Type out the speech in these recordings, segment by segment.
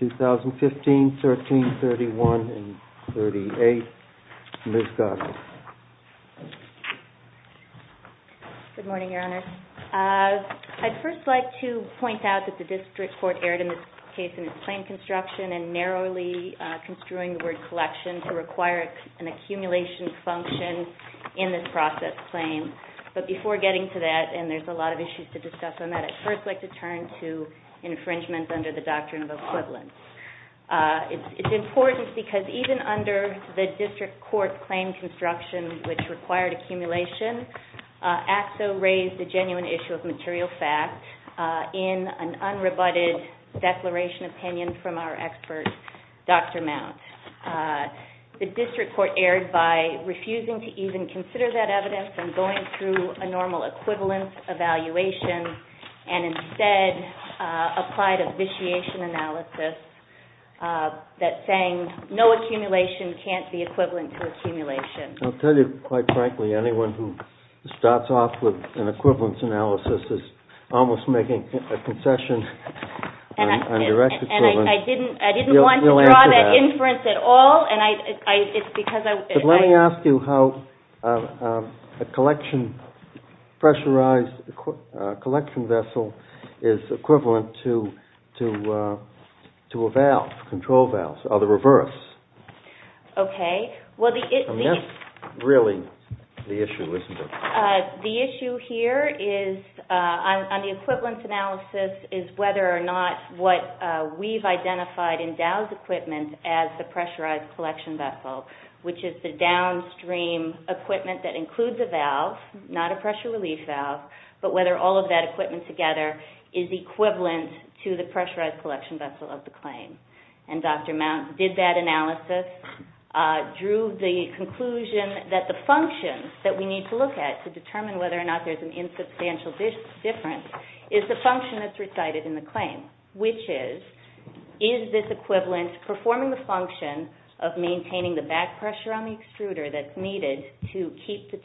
2015, 13, 31, and 38. Ms. Goss. Good morning, Your Honor. I'd first like to point out that the district court erred in this case in its claim construction and narrowly construing the word collection to require an accumulation function in this process claim. But before getting to that, and there's a lot of issues to discuss on that, I'd first like to turn to infringements under the doctrine of equivalence. It's important because even under the district court's claim construction, which required accumulation, Axo raised the issue of material fact in an unrebutted declaration opinion from our expert, Dr. Mount. The district court erred by refusing to even consider that evidence and going through a normal equivalence evaluation and instead applied a vitiation analysis that's saying no accumulation can't be equivalent to accumulation. I'll tell you quite frankly, anyone who starts off with an equivalence analysis is almost making a concession on direct equivalence. And I didn't want to draw that inference at all. But let me ask you how a pressurized collection vessel is equivalent to a valve, control valve, or the reverse. Okay. Well, the issue here is on the equivalence analysis is whether or not what we've identified in Dow's equipment as the pressurized collection vessel, which is the downstream equipment that includes a valve, not a pressure relief valve, but whether all of that equipment together is equivalent to the pressurized collection vessel of the claim. And Dr. Mount did that analysis, drew the conclusion that the functions that we need to look at to determine whether or not there's any substantial difference is the function that's recited in the claim, which is, is this equivalence performing the function of maintaining the back pressure on the extruder that's needed to keep the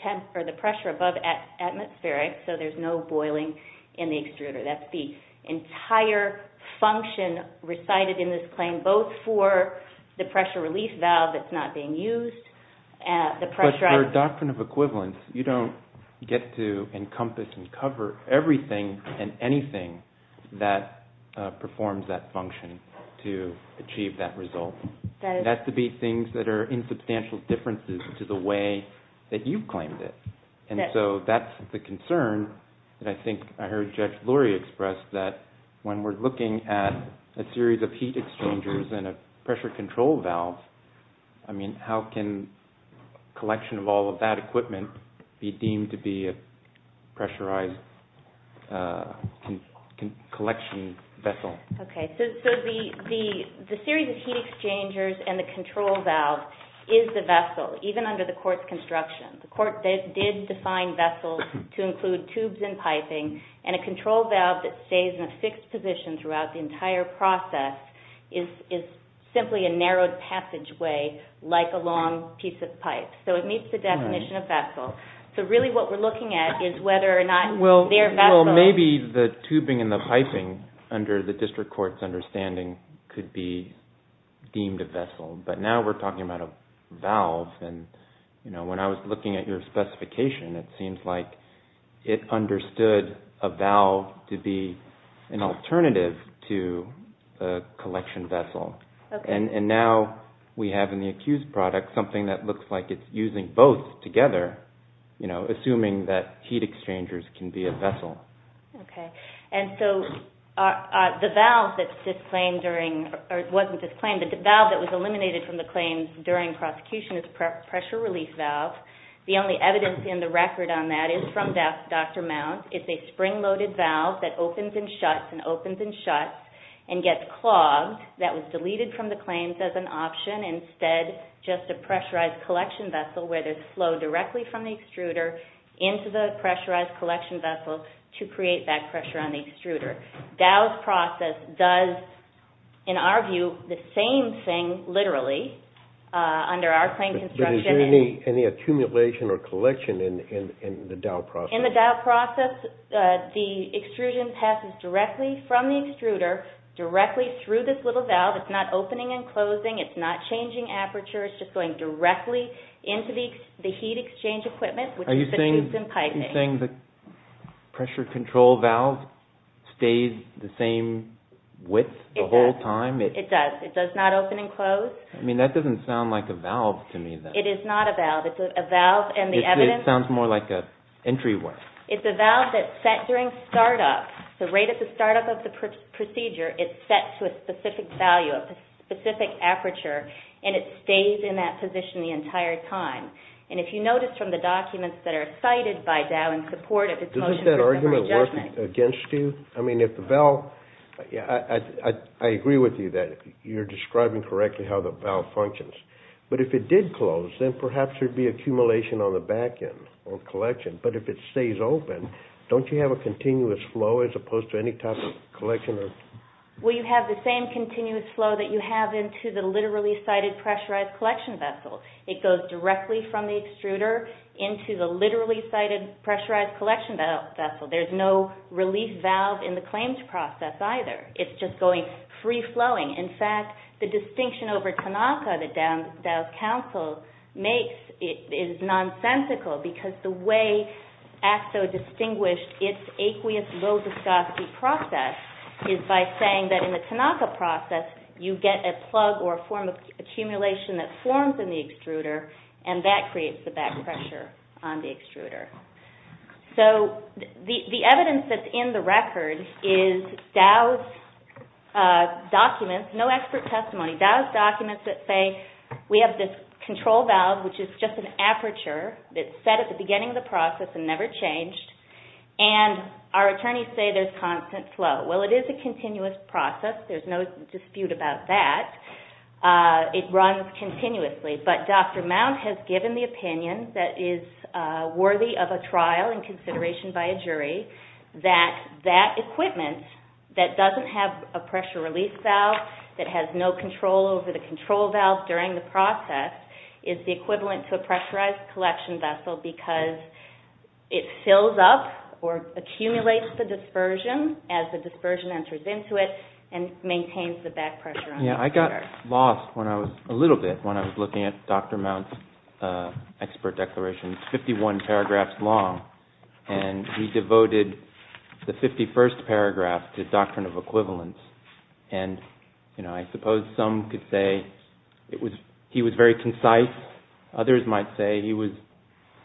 pressure above atmospheric so there's no boiling in the extruder? That's the entire function recited in this claim, both for the pressure relief valve that's not being used, the pressure on the extruder, and the pressure relief valve. So we have to encompass and cover everything and anything that performs that function to achieve that result. That has to be things that are insubstantial differences to the way that you've claimed it. And so that's the concern that I think I heard Judge Lurie express that when we're looking at a series of heat exchangers and a pressure control valve, I mean, how can collection of all of that equipment be deemed to be a pressure ized collection vessel? Okay, so the series of heat exchangers and the control valve is the vessel, even under the court's construction. The court did define vessels to include tubes and piping, and a control valve that stays in a fixed position throughout the entire process is simply a narrowed passageway like a long piece of pipe. So it meets the definition of vessel. So really what we're looking at is whether or not they're vessels. Well, maybe the tubing and the piping, under the district court's understanding, could be deemed a vessel. But now we're talking about a valve, and when I was looking at your specification, it seems like it understood a valve to be an alternative to a collection vessel. And now we have in the accused product something that looks like it's using both together, assuming that heat exchangers can be a vessel. And so the valve that was eliminated from the claims during prosecution is a pressure release valve. The only evidence in the record on that is from Dr. Mount. It's a spring-loaded valve that opens and shuts and opens and shuts and gets clogged. That was deleted from the record. So it's going to flow directly from the extruder into the pressurized collection vessel to create that pressure on the extruder. Dow's process does, in our view, the same thing, literally, under our claim construction. But is there any accumulation or collection in the Dow process? In the Dow process, the extrusion passes directly from the extruder, directly through this little valve. It's not opening and closing. It's not changing aperture. It's just going directly into the heat exchange equipment, which is the tubes and piping. Are you saying the pressure control valve stays the same width the whole time? It does. It does not open and close. I mean, that doesn't sound like a valve to me, then. It is not a valve. It's a valve and the evidence... It sounds more like an entryway. It's a valve that's set during startup. So right at the startup of the procedure, it's set to a specific value, a specific aperture, and it stays in that position the entire time. And if you notice from the documents that are cited by Dow in support of its motion for deferred adjustment... Does that argument work against you? I mean, if the valve... I agree with you that you're describing correctly how the valve functions. But if it did close, then perhaps there'd be accumulation on the back end, on collection. But if it stays open, don't you have a continuous flow as opposed to any type of collection or... Well, you have the same continuous flow that you have into the literally-cited pressurized collection vessel. It goes directly from the extruder into the literally-cited pressurized collection vessel. There's no relief valve in the claims process, either. It's just going free-flowing. In fact, the distinction over Tanaka that Dow's counsel makes is nonsensical because the way ACSO distinguished its aqueous low-viscosity process is by saying that in the Tanaka process, you get a plug or a form of accumulation that forms in the extruder, and that creates the back pressure on the extruder. So the evidence that's in the record is Dow's documents, no expert testimony, Dow's documents that say, we have this control valve, which is just an aperture that's set at the beginning of the process and never changed, and our attorneys say there's constant flow. Well, it is a continuous process. There's no dispute about that. It runs continuously. But Dr. Mount has given the opinion that is worthy of a trial and consideration by a jury that that equipment that doesn't have a pressure-release valve, that has no control over the control valve during the process, is the equivalent to a pressurized collection vessel because it fills up or accumulates the dispersion as the dispersion enters into it and maintains the back pressure on the extruder. I got lost a little bit when I was looking at Dr. Mount's expert declaration, 51 paragraphs long, and he devoted the 51st paragraph to doctrine of equivalence, and I suppose some could say he was very concise. Others might say he was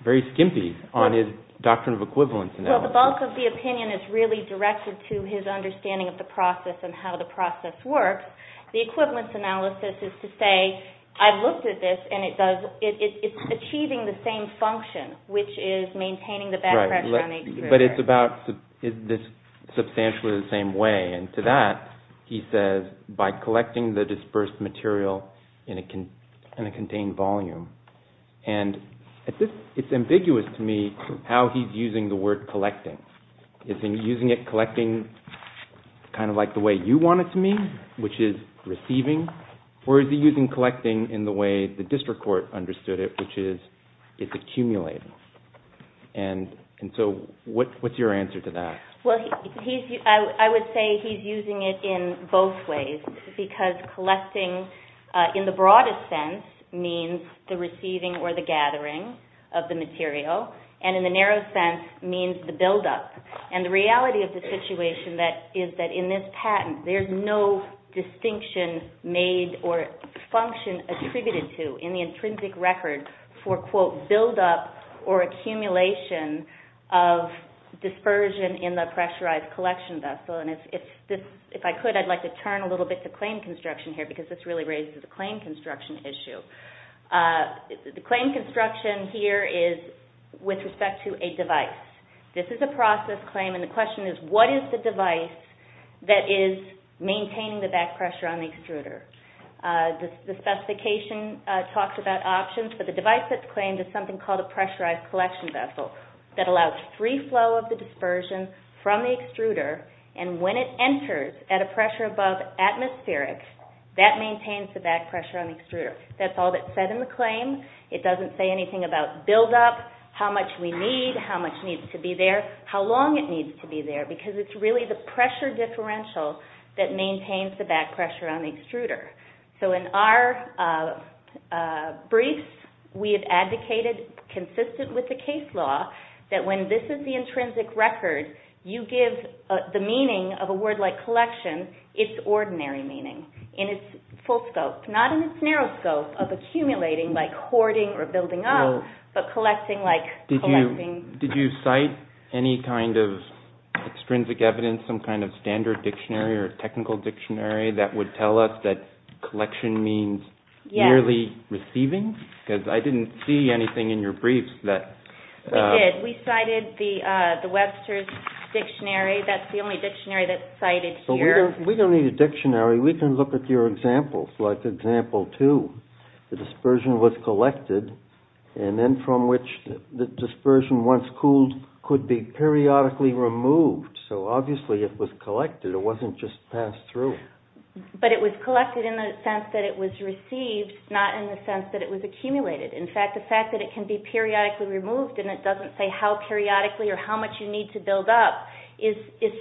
very skimpy on his doctrine of equivalence analysis. Well, the bulk of the opinion is really directed to his understanding of the process and how the process works. The equivalence analysis is to say, I've looked at this, and it's achieving the same function, which is maintaining the back pressure on the extruder. But it's about this substantially the same way, and to that he says, by collecting the dispersed material in a contained volume. And it's ambiguous to me how he's using the word collecting. Is he using it collecting kind of like the way you want it to mean, which is receiving, or is he using collecting in the way the district court understood it, which is it's accumulating? And so what's your answer to that? I would say he's using it in both ways, because collecting in the broadest sense means the receiving or the gathering of the material, and in the narrow sense means the buildup. And the reality of the situation is that in this patent, there's no distinction made or function attributed to in the intrinsic record for, quote, buildup or accumulation of dispersion in the pressurized collection vessel. And if I could, I'd like to turn a little bit to claim construction here, because this really raises a claim construction issue. The claim construction here is with respect to a device. This is a process claim, and the question is, what is the device that is maintaining the back pressure on the extruder? The specification talks about options, but the device that's claimed is something called a pressurized collection vessel that allows free flow of the dispersion from the extruder, and when it enters at a pressure above atmospheric, that maintains the back pressure on the extruder. That's all that's said in the claim. It doesn't say anything about buildup, how much we need, how much needs to be there, how long it needs to be there, because it's really the pressure differential that maintains the back pressure on the extruder. So in our briefs, we have advocated, consistent with the case law, that when this is the intrinsic record, you give the meaning of a word like collection its ordinary meaning, in its full scope, not in its narrow scope of accumulating, like hoarding or building up, but collecting Did you cite any kind of extrinsic evidence, some kind of standard dictionary or technical dictionary that would tell us that collection means merely receiving? Because I didn't see anything in your briefs that... We did. We cited the Webster's dictionary. That's the only dictionary that's cited here. We don't need a dictionary. We can look at your examples, like example two. The dispersion was collected, and then from which the dispersion, once cooled, could be periodically removed. So obviously it was collected. It wasn't just passed through. But it was collected in the sense that it was received, not in the sense that it was accumulated. In fact, the fact that it can be periodically removed, and it doesn't say how periodically or how much you need to build up, is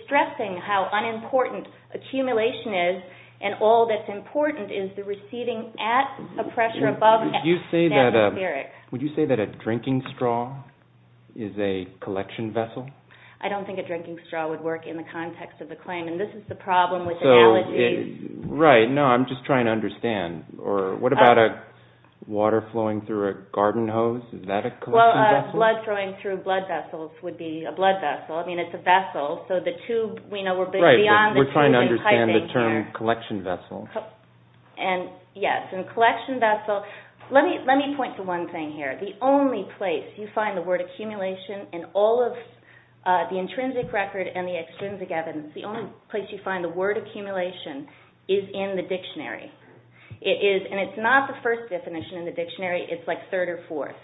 stressing how unimportant accumulation is, and all that's important is the receiving at a pressure above atmospheric. Would you say that a drinking straw is a collection vessel? I don't think a drinking straw would work in the context of the claim, and this is the problem with analogies. Right. No, I'm just trying to understand. What about water flowing through a garden hose? Is that a collection vessel? Well, blood flowing through blood vessels would be a blood vessel. I mean, it's a vessel, so the tube, we know we're beyond the tube in typing here. Right, but we're trying to understand the term collection vessel. Yes, and collection vessel, let me point to one thing here. The only place you find the word accumulation in all of the intrinsic record and the extrinsic evidence, the only place you find the word accumulation is in the dictionary. It is, and it's not the first definition in the dictionary, it's like third or fourth.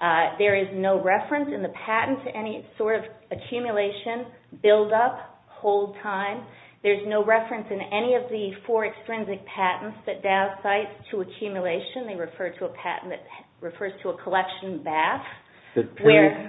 There is no reference in the patent to any sort of accumulation, build up, hold time. There's no reference in any of the four extrinsic patents that Dow cites to accumulation. They refer to a patent that refers to a collection bath.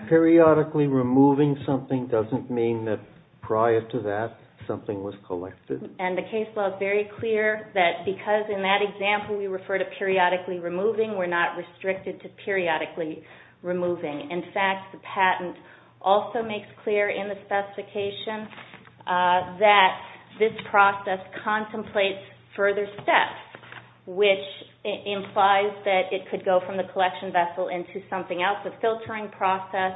Periodically removing something doesn't mean that prior to that something was collected. And the case law is very clear that because in that example we refer to periodically removing, we're not restricted to periodically removing. In fact, the patent also makes clear in the specification that this process contemplates further steps, which implies that it could go from the collection vessel into something else, a filtering process.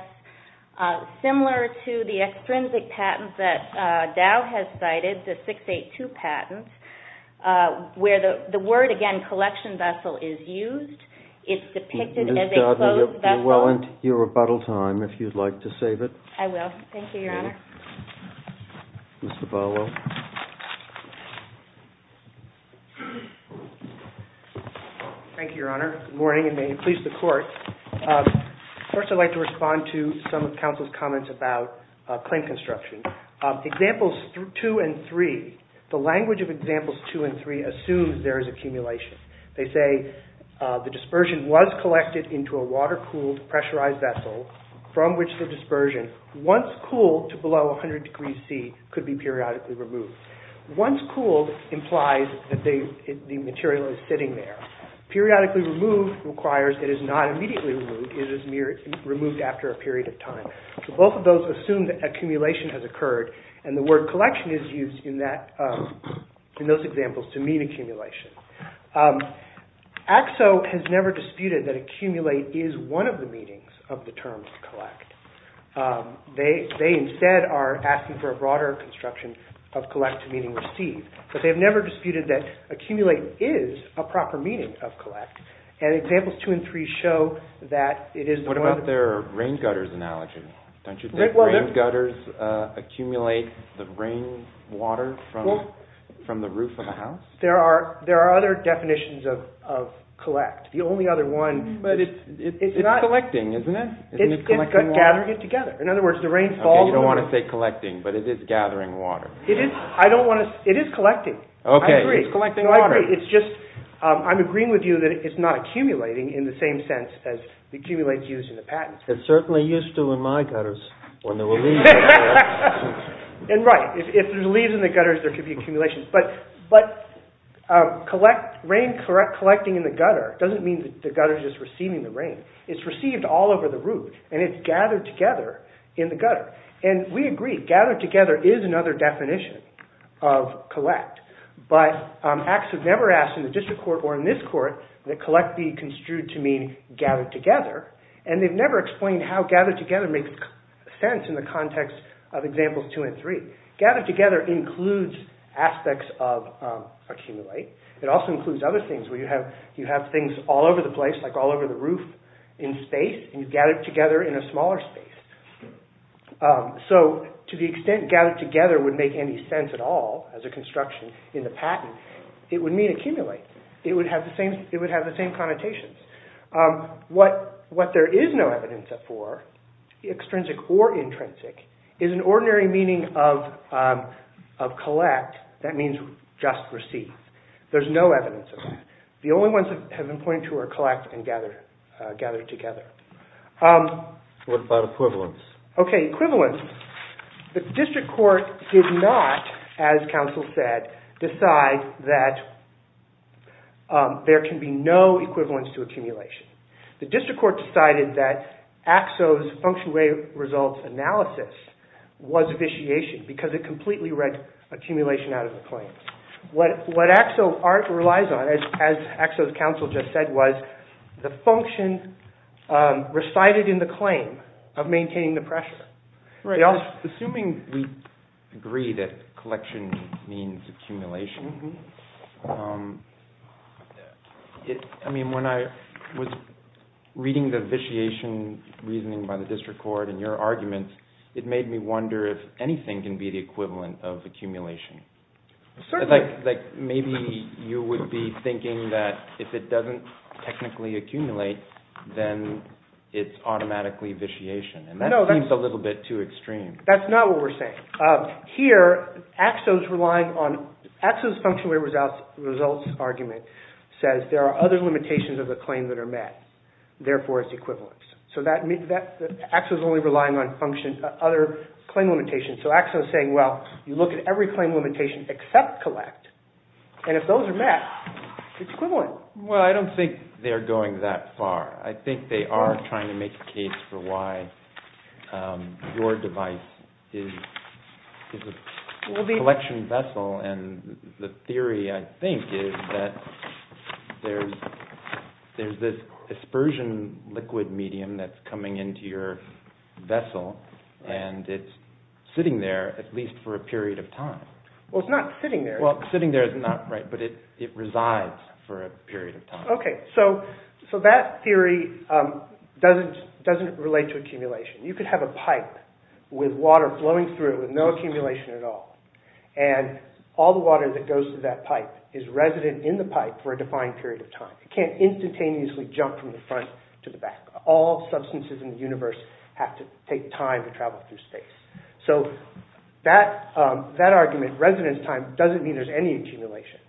Similar to the extrinsic patent that Dow has cited, the 682 patent, where the word, again, is depicted as a closed vessel. Ms. Doudna, you're well into your rebuttal time, if you'd like to save it. I will. Thank you, Your Honor. Ms. Zavala. Thank you, Your Honor. Good morning, and may it please the Court. First, I'd like to respond to some of counsel's comments about claim construction. Examples two and three, the dispersion was collected into a water-cooled, pressurized vessel from which the dispersion, once cooled to below 100 degrees C, could be periodically removed. Once cooled implies that the material is sitting there. Periodically removed requires that it is not immediately removed, it is removed after a period of time. Both of those assume that accumulation has occurred, and the word collection is used in those examples to mean accumulation. AXO has never disputed that accumulate is one of the meanings of the term collect. They, instead, are asking for a broader construction of collect to mean receive. But they have never disputed that accumulate is a proper meaning of collect. And examples two and three show that it is... What about their rain gutters analogy? Don't you think rain gutters accumulate the rain water from the roof of a house? There are other definitions of collect. The only other one... But it's collecting, isn't it? It's gathering it together. In other words, the rain falls... Okay, you don't want to say collecting, but it is gathering water. I don't want to... It is collecting. Okay, it's collecting water. No, I agree. It's just... I'm agreeing with you that it's not accumulating in the same sense as the accumulates used in the patents. It certainly used to in my gutters when there were leaves in there. And right, if there's leaves in the gutters, there could be accumulations. But collect... Rain collecting in the gutter doesn't mean that the gutter is just receiving the rain. It's received all over the roof. And it's gathered together in the gutter. And we agree. Gathered together is another definition of collect. But acts are never asked in the district court or in this court that collect be construed to mean gathered together. And they've never explained how gathered together makes sense in the context of examples two and three. Gathered together includes aspects of accumulate. It also includes other things where you have things all over the place, like all over the roof in space. And you gather it together in a smaller space. So to the extent gathered together would make any sense at all as a construction in the patent, it would mean accumulate. It would have the same connotations. What there is no evidence for, extrinsic or intrinsic, is an ordinary meaning of collect. That means just received. There's no evidence of that. The only ones that have been pointed to are collect and gather together. What about equivalence? Okay, equivalence. The district court did not, as counsel said, decide that there can be no equivalence to accumulation. The district court decided that AXO's function-weighted results analysis was vitiation because it completely read accumulation out of the claims. What AXO relies on, as AXO's counsel just said, was the function recited in the claim of maintaining the pressure. Assuming we agree that collection means accumulation, I mean, when I was reading the vitiation reasoning by the district court and your arguments, it made me wonder if anything can be the equivalent of accumulation. Certainly. Like maybe you would be thinking that if it doesn't technically accumulate, then it's automatically vitiation. And that seems a little bit too extreme. That's not what we're saying. Here, AXO's function-weighted results argument says there are other limitations of the claim that are met. Therefore, it's equivalence. So AXO's only relying on other claim limitations. So AXO's saying, well, you look at every claim limitation except collect, and if those are met, it's equivalent. Well, I don't think they're going that far. I think they are trying to make a case for why your device is a collection vessel, and the theory, I think, is that there's this dispersion liquid medium that's coming into your vessel, and it's sitting there, at least for a period of time. Well, it's not sitting there. Well, sitting there is not, right, but it resides for a period of time. Okay, so that theory doesn't relate to accumulation. You could have a pipe with water flowing through it with no accumulation at all, and all the water that goes to that pipe is resident in the pipe for a defined period of time. It can't instantaneously jump from the front to the back. All substances in the universe have to take time to travel through space. So that argument, residence time, doesn't mean there's any accumulation.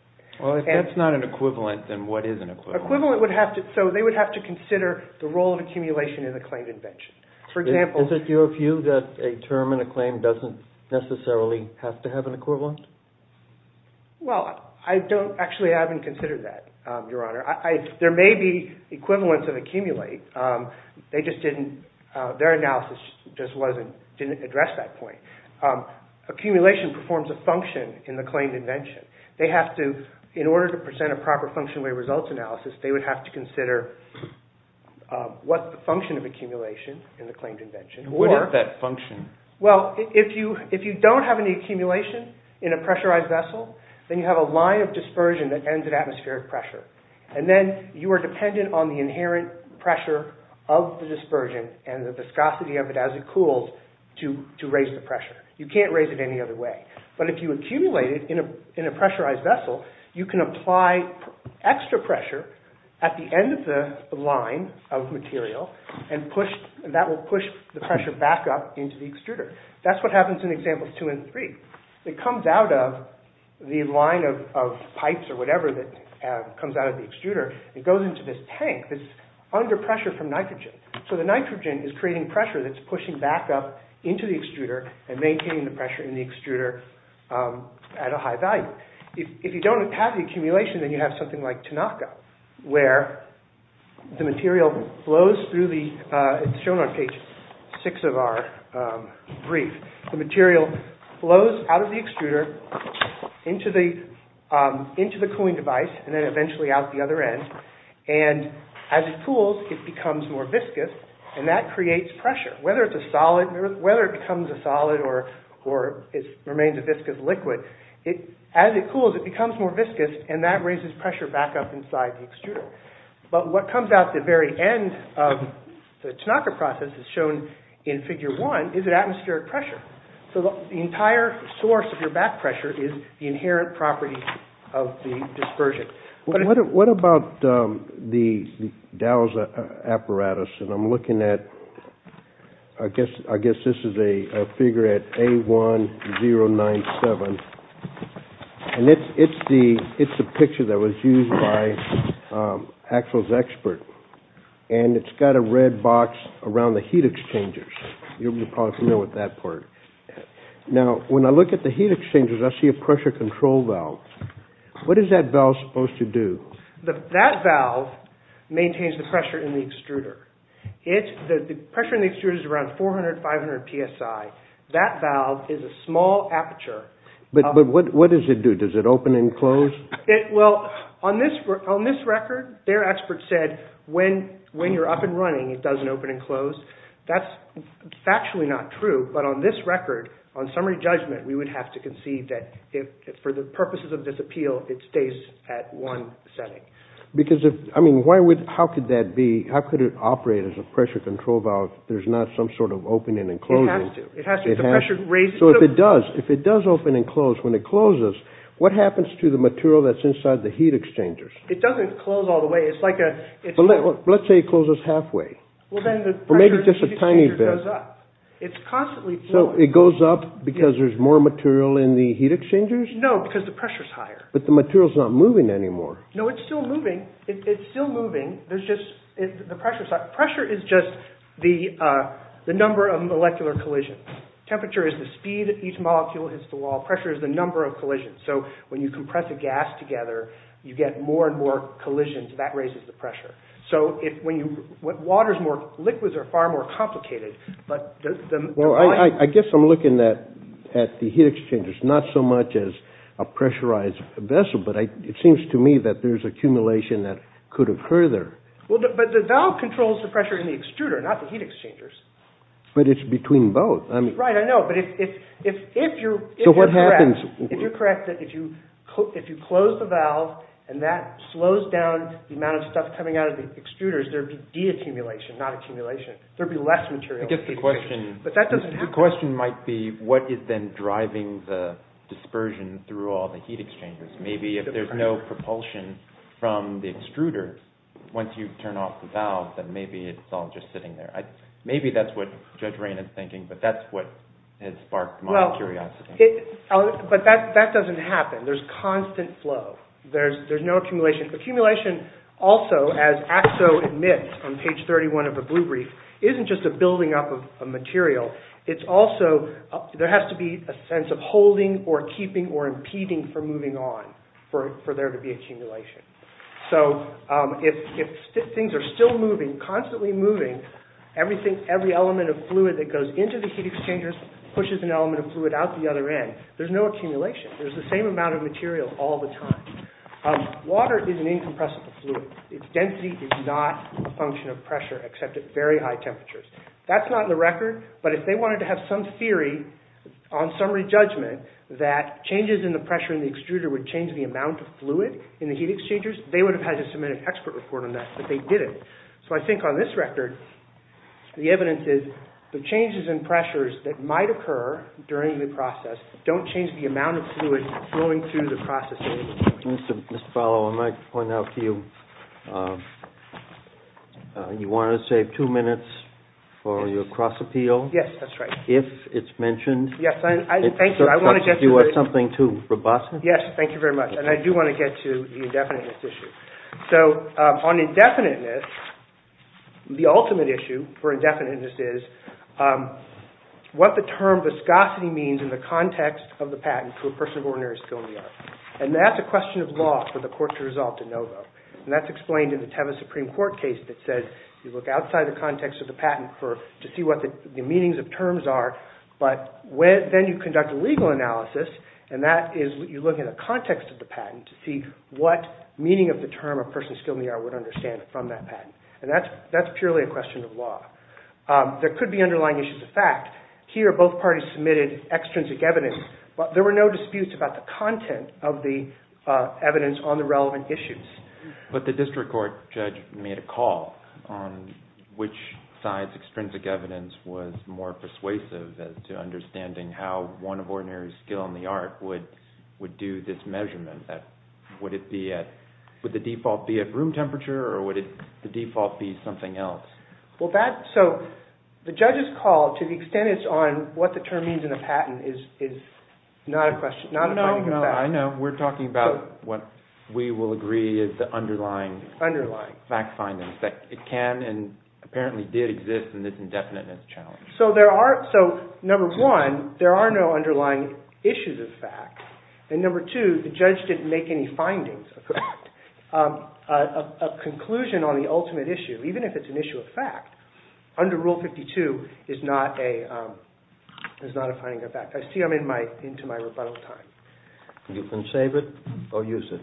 Well, if that's not an equivalent, then what is an equivalent? Equivalent would have to... So they would have to consider the role of accumulation in the claimed invention. For example... Is it your view that a term in a claim doesn't necessarily have to have an equivalent? Well, I don't... Actually, I haven't considered that, Your Honor. There may be equivalents of accumulate. They just didn't... Their analysis just didn't address that point. Accumulation performs a function in the claimed invention. They have to... In order to present a proper functional results analysis, they would have to consider what's the function of accumulation in the claimed invention. What is that function? Well, if you don't have any accumulation in a pressurized vessel, then you have a line of dispersion that ends at atmospheric pressure. And then you are dependent on the inherent pressure of the dispersion and the viscosity of it as it cools to raise the pressure. You can't raise it any other way. But if you accumulate it in a pressurized vessel, you can apply extra pressure at the end of the line of material and that will push the pressure back up into the extruder. That's what happens in examples 2 and 3. It comes out of the line of pipes or whatever that comes out of the extruder. It goes into this tank So the nitrogen is creating pressure that's pushing back up into the extruder and maintaining the pressure in the extruder at a high value. If you don't have the accumulation, then you have something like Tanaka where the material flows through the It's shown on page 6 of our brief. The material flows out of the extruder into the cooling device and then eventually out the other end. And as it cools, it becomes more viscous and that creates pressure. Whether it becomes a solid or remains a viscous liquid, as it cools, it becomes more viscous and that raises pressure back up inside the extruder. But what comes out the very end of the Tanaka process is shown in figure 1 is atmospheric pressure. So the entire source of your back pressure is the inherent property of the dispersion. What about the DOWS apparatus? And I'm looking at I guess this is a figure at A1097 and it's a picture that was used by Axel's expert. And it's got a red box around the heat exchangers. You're probably familiar with that part. Now, when I look at the heat exchangers, I see a pressure control valve. What is that valve supposed to do? That valve maintains the pressure in the extruder. The pressure in the extruder is around 400-500 psi. That valve is a small aperture. But what does it do? Does it open and close? Well, on this record, their expert said when you're up and running, it doesn't open and close. That's factually not true. But on this record, on summary judgment, we would have to concede that for the purposes of this appeal, it stays at one setting. How could it operate as a pressure control valve if there's not some sort of opening and closing? It has to. So if it does, if it does open and close, when it closes, what happens to the material that's inside the heat exchangers? It doesn't close all the way. Let's say it closes halfway. Or maybe just a tiny bit. It's constantly flowing. So it goes up because there's more material in the heat exchangers? No, because the pressure's higher. But the material's not moving anymore. No, it's still moving. It's still moving. There's just, the pressure's higher. Pressure is just the number of molecular collisions. Temperature is the speed that each molecule hits the wall. Pressure is the number of collisions. So when you compress a gas together, you get more and more collisions. That raises the pressure. So when you, when water's more, liquids are far more complicated, but the volume... Well, I guess I'm looking at the heat exchangers, not so much as a pressurized vessel, but it seems to me that there's accumulation that could occur there. Well, but the valve controls the pressure in the extruder, not the heat exchangers. But it's between both. Right, I know. But if you're correct... So what happens? If you're correct that if you close the valve and that slows down the amount of stuff coming out of the extruders, there'd be de-accumulation, not accumulation. There'd be less material in the heat exchangers. But that doesn't happen. The question might be what is then driving the dispersion through all the heat exchangers? Maybe if there's no propulsion from the extruder, once you turn off the valve, then maybe it's all just sitting there. Maybe that's what Judge Rain is thinking, but that's what has sparked my curiosity. But that doesn't happen. There's constant flow. There's no accumulation. Accumulation also, as AXO admits on page 31 of the Blue Brief, isn't just a building up of material. It's also... There has to be a sense of holding or keeping or impeding for moving on for there to be accumulation. So if things are still moving, constantly moving, every element of fluid that goes into the heat exchangers pushes an element of fluid out the other end, there's no accumulation. There's the same amount of material all the time. Water is an incompressible fluid. Its density is not a function of pressure except at very high temperatures. That's not in the record, but if they wanted to have some theory on summary judgment that changes in the pressure during the extruder would change the amount of fluid in the heat exchangers, they would have had to submit an expert report on that, but they didn't. So I think on this record, the evidence is the changes in pressures that might occur during the process don't change the amount of fluid flowing through the process. Mr. Fowler, I might point out to you you wanted to save two minutes for your cross-appeal. Yes, that's right. If it's mentioned... Yes, I... Thank you. I want to get to... Do you want something too robust? Yes, thank you very much and I do want to get to the indefiniteness issue. So on indefiniteness, the ultimate issue for indefiniteness is what the term viscosity means in the context of the patent to a person of ordinary skill in the art. And that's a question of law for the court to resolve to NOVO and that's explained in the Teva Supreme Court case that said you look outside the context of the patent to see what the meanings of terms are, but then you conduct a legal analysis and that is you look at the context of the patent to see what meaning of the term a person of skill in the art would understand from that patent and that's purely a question of law. There could be underlying issues of fact. Here, both parties submitted extrinsic evidence but there were no disputes about the content of the evidence on the relevant issues. But the district court judge made a call on which side's extrinsic evidence was more persuasive as to understanding how one of ordinary skill in the art would do this measurement. Would the default be at room temperature or would the default be something else? The judge's call to the extent it's on what the term means in the patent is not a question of fact. No, no, I know. what we will agree is the underlying fact findings that it can and apparently did exist in this indefinite and it's true. So the judge made a call on which side of the challenge. So there are so number one there are no underlying issues of fact and number two the judge didn't make any findings of fact a conclusion on the ultimate issue even if it's an issue of fact under rule 52 is not a is not a finding of fact. I see I'm into my rebuttal time. You can save it or use it.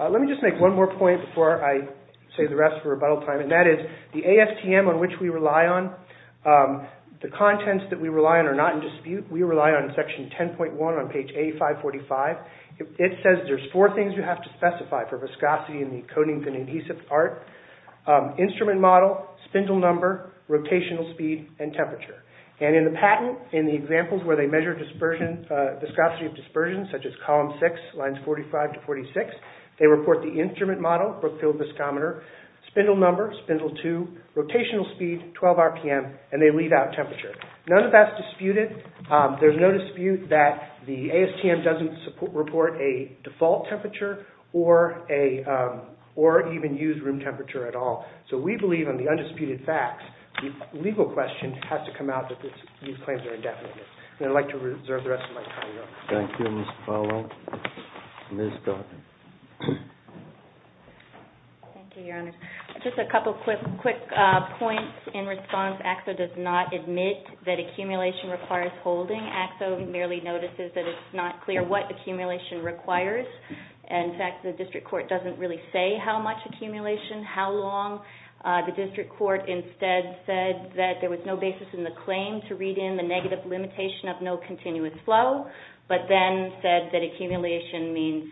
Let me just make one more point before I save the rest for rebuttal time and that is the ASTM on which we rely on the contents that we rely on are not in dispute we rely on section 10.1 on page A545 it says there's four things you have to specify for viscosity in the coating and adhesive art instrument model spindle number rotational speed and temperature and in the patent in the examples where they measure dispersion viscosity of dispersion such as column six lines 45 to 46 they report the instrument model Brookfield viscometer spindle number spindle two rotational speed 12 RPM and they leave out temperature none of that's disputed there's no dispute that the ASTM doesn't report a default temperature or a or even use room temperature at all so we believe in the undisputed facts the legal question has to come out that these claims are indefinite and I'd like to reserve the rest of my time though. Thank you Mr. Powell Thank you Your Honor Just a couple quick points in response ACSO does not admit that accumulation requires holding ACSO merely notices that it's not clear what accumulation requires in fact the district court doesn't really say how much accumulation how long the district court instead said that there was no basis in the claim to read in the negative limitation of no continuous flow but then said that accumulation means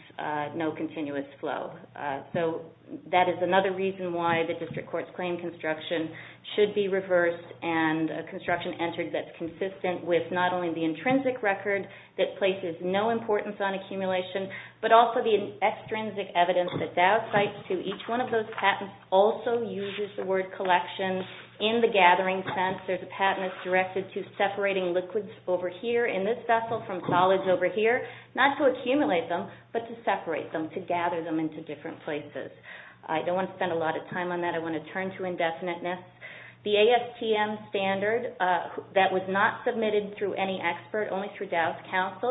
no continuous flow so that is another reason why the district court's claim construction should be reversed and a construction entered that's consistent with not only the intrinsic record that places no importance on accumulation but also the extrinsic evidence that DOW cites to each one of those patents also uses the word collection in the gathering sense there's a patent that's directed to separating liquids over here in this vessel from solids over here not to accumulate them but to separate them to gather them into different places I don't want to spend a lot of time on that I want to turn to indefiniteness the ASTM standard that was not submitted through any expert only through the ASTM standard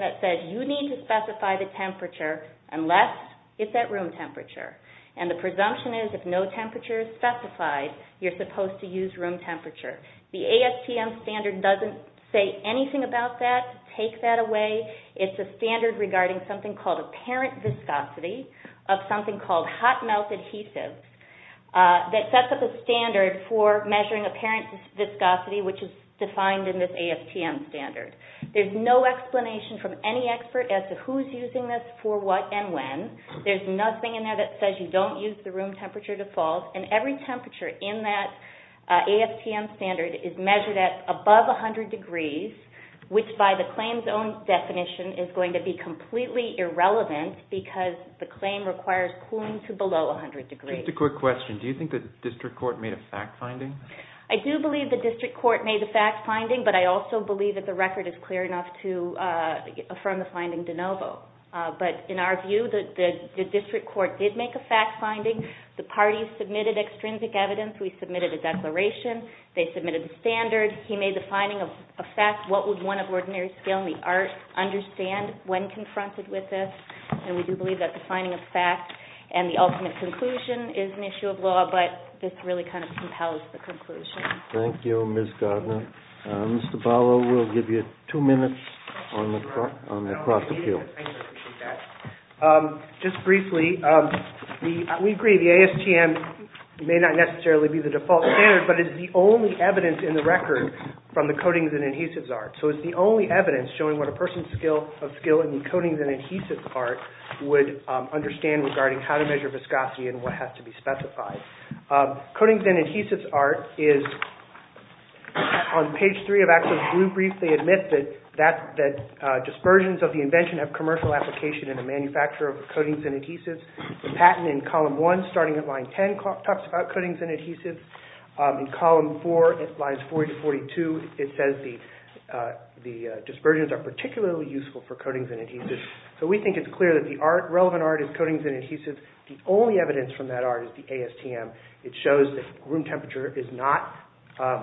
that says you need to specify the temperature unless it's at room temperature and the presumption is if no temperature is specified you're supposed to use room temperature the ASTM standard doesn't say anything about that take that away it's a standard regarding apparent viscosity of hot melt adhesives that sets up a standard for measuring apparent viscosity there's no explanation from any expert as to who's using this for what and when there's nothing in there that says you don't use the room temperature default and every temperature in that ASTM standard is measured at above 100 degrees which by the claim's own definition is going to be completely irrelevant because the claim requires cooling to below 100 degrees I do believe the district court made a fact finding but I also believe that the record is clear enough to affirm the finding de novo but in our view the district court did make a fact finding the parties submitted extrinsic evidence we submitted a declaration they submitted a standard he made the finding of fact what would one of ordinary scale in the art understand when confronted with this and we do believe that the finding of fact and the ultimate conclusion is an issue of law but this really kind of compels the conclusion thank you Ms. Gardner Mr. Barlow will give you two minutes across the field just briefly we agree the ASTM may not necessarily be the default standard but it is the only evidence in the record from the coatings and adhesives art so it's the only evidence showing person's skill in coatings and adhesives art would understand regarding how to measure viscosity and what has to be specified coatings and adhesives art is the only evidence from that art is that room temperature is not the only evidence from that art is the ASTM it shows that room temperature is not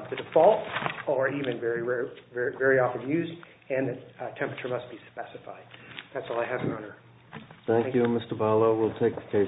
the default or even very often used and temperature must be specified that's all I have thank you Mr. Barlow we'll take the case under review thank you thank you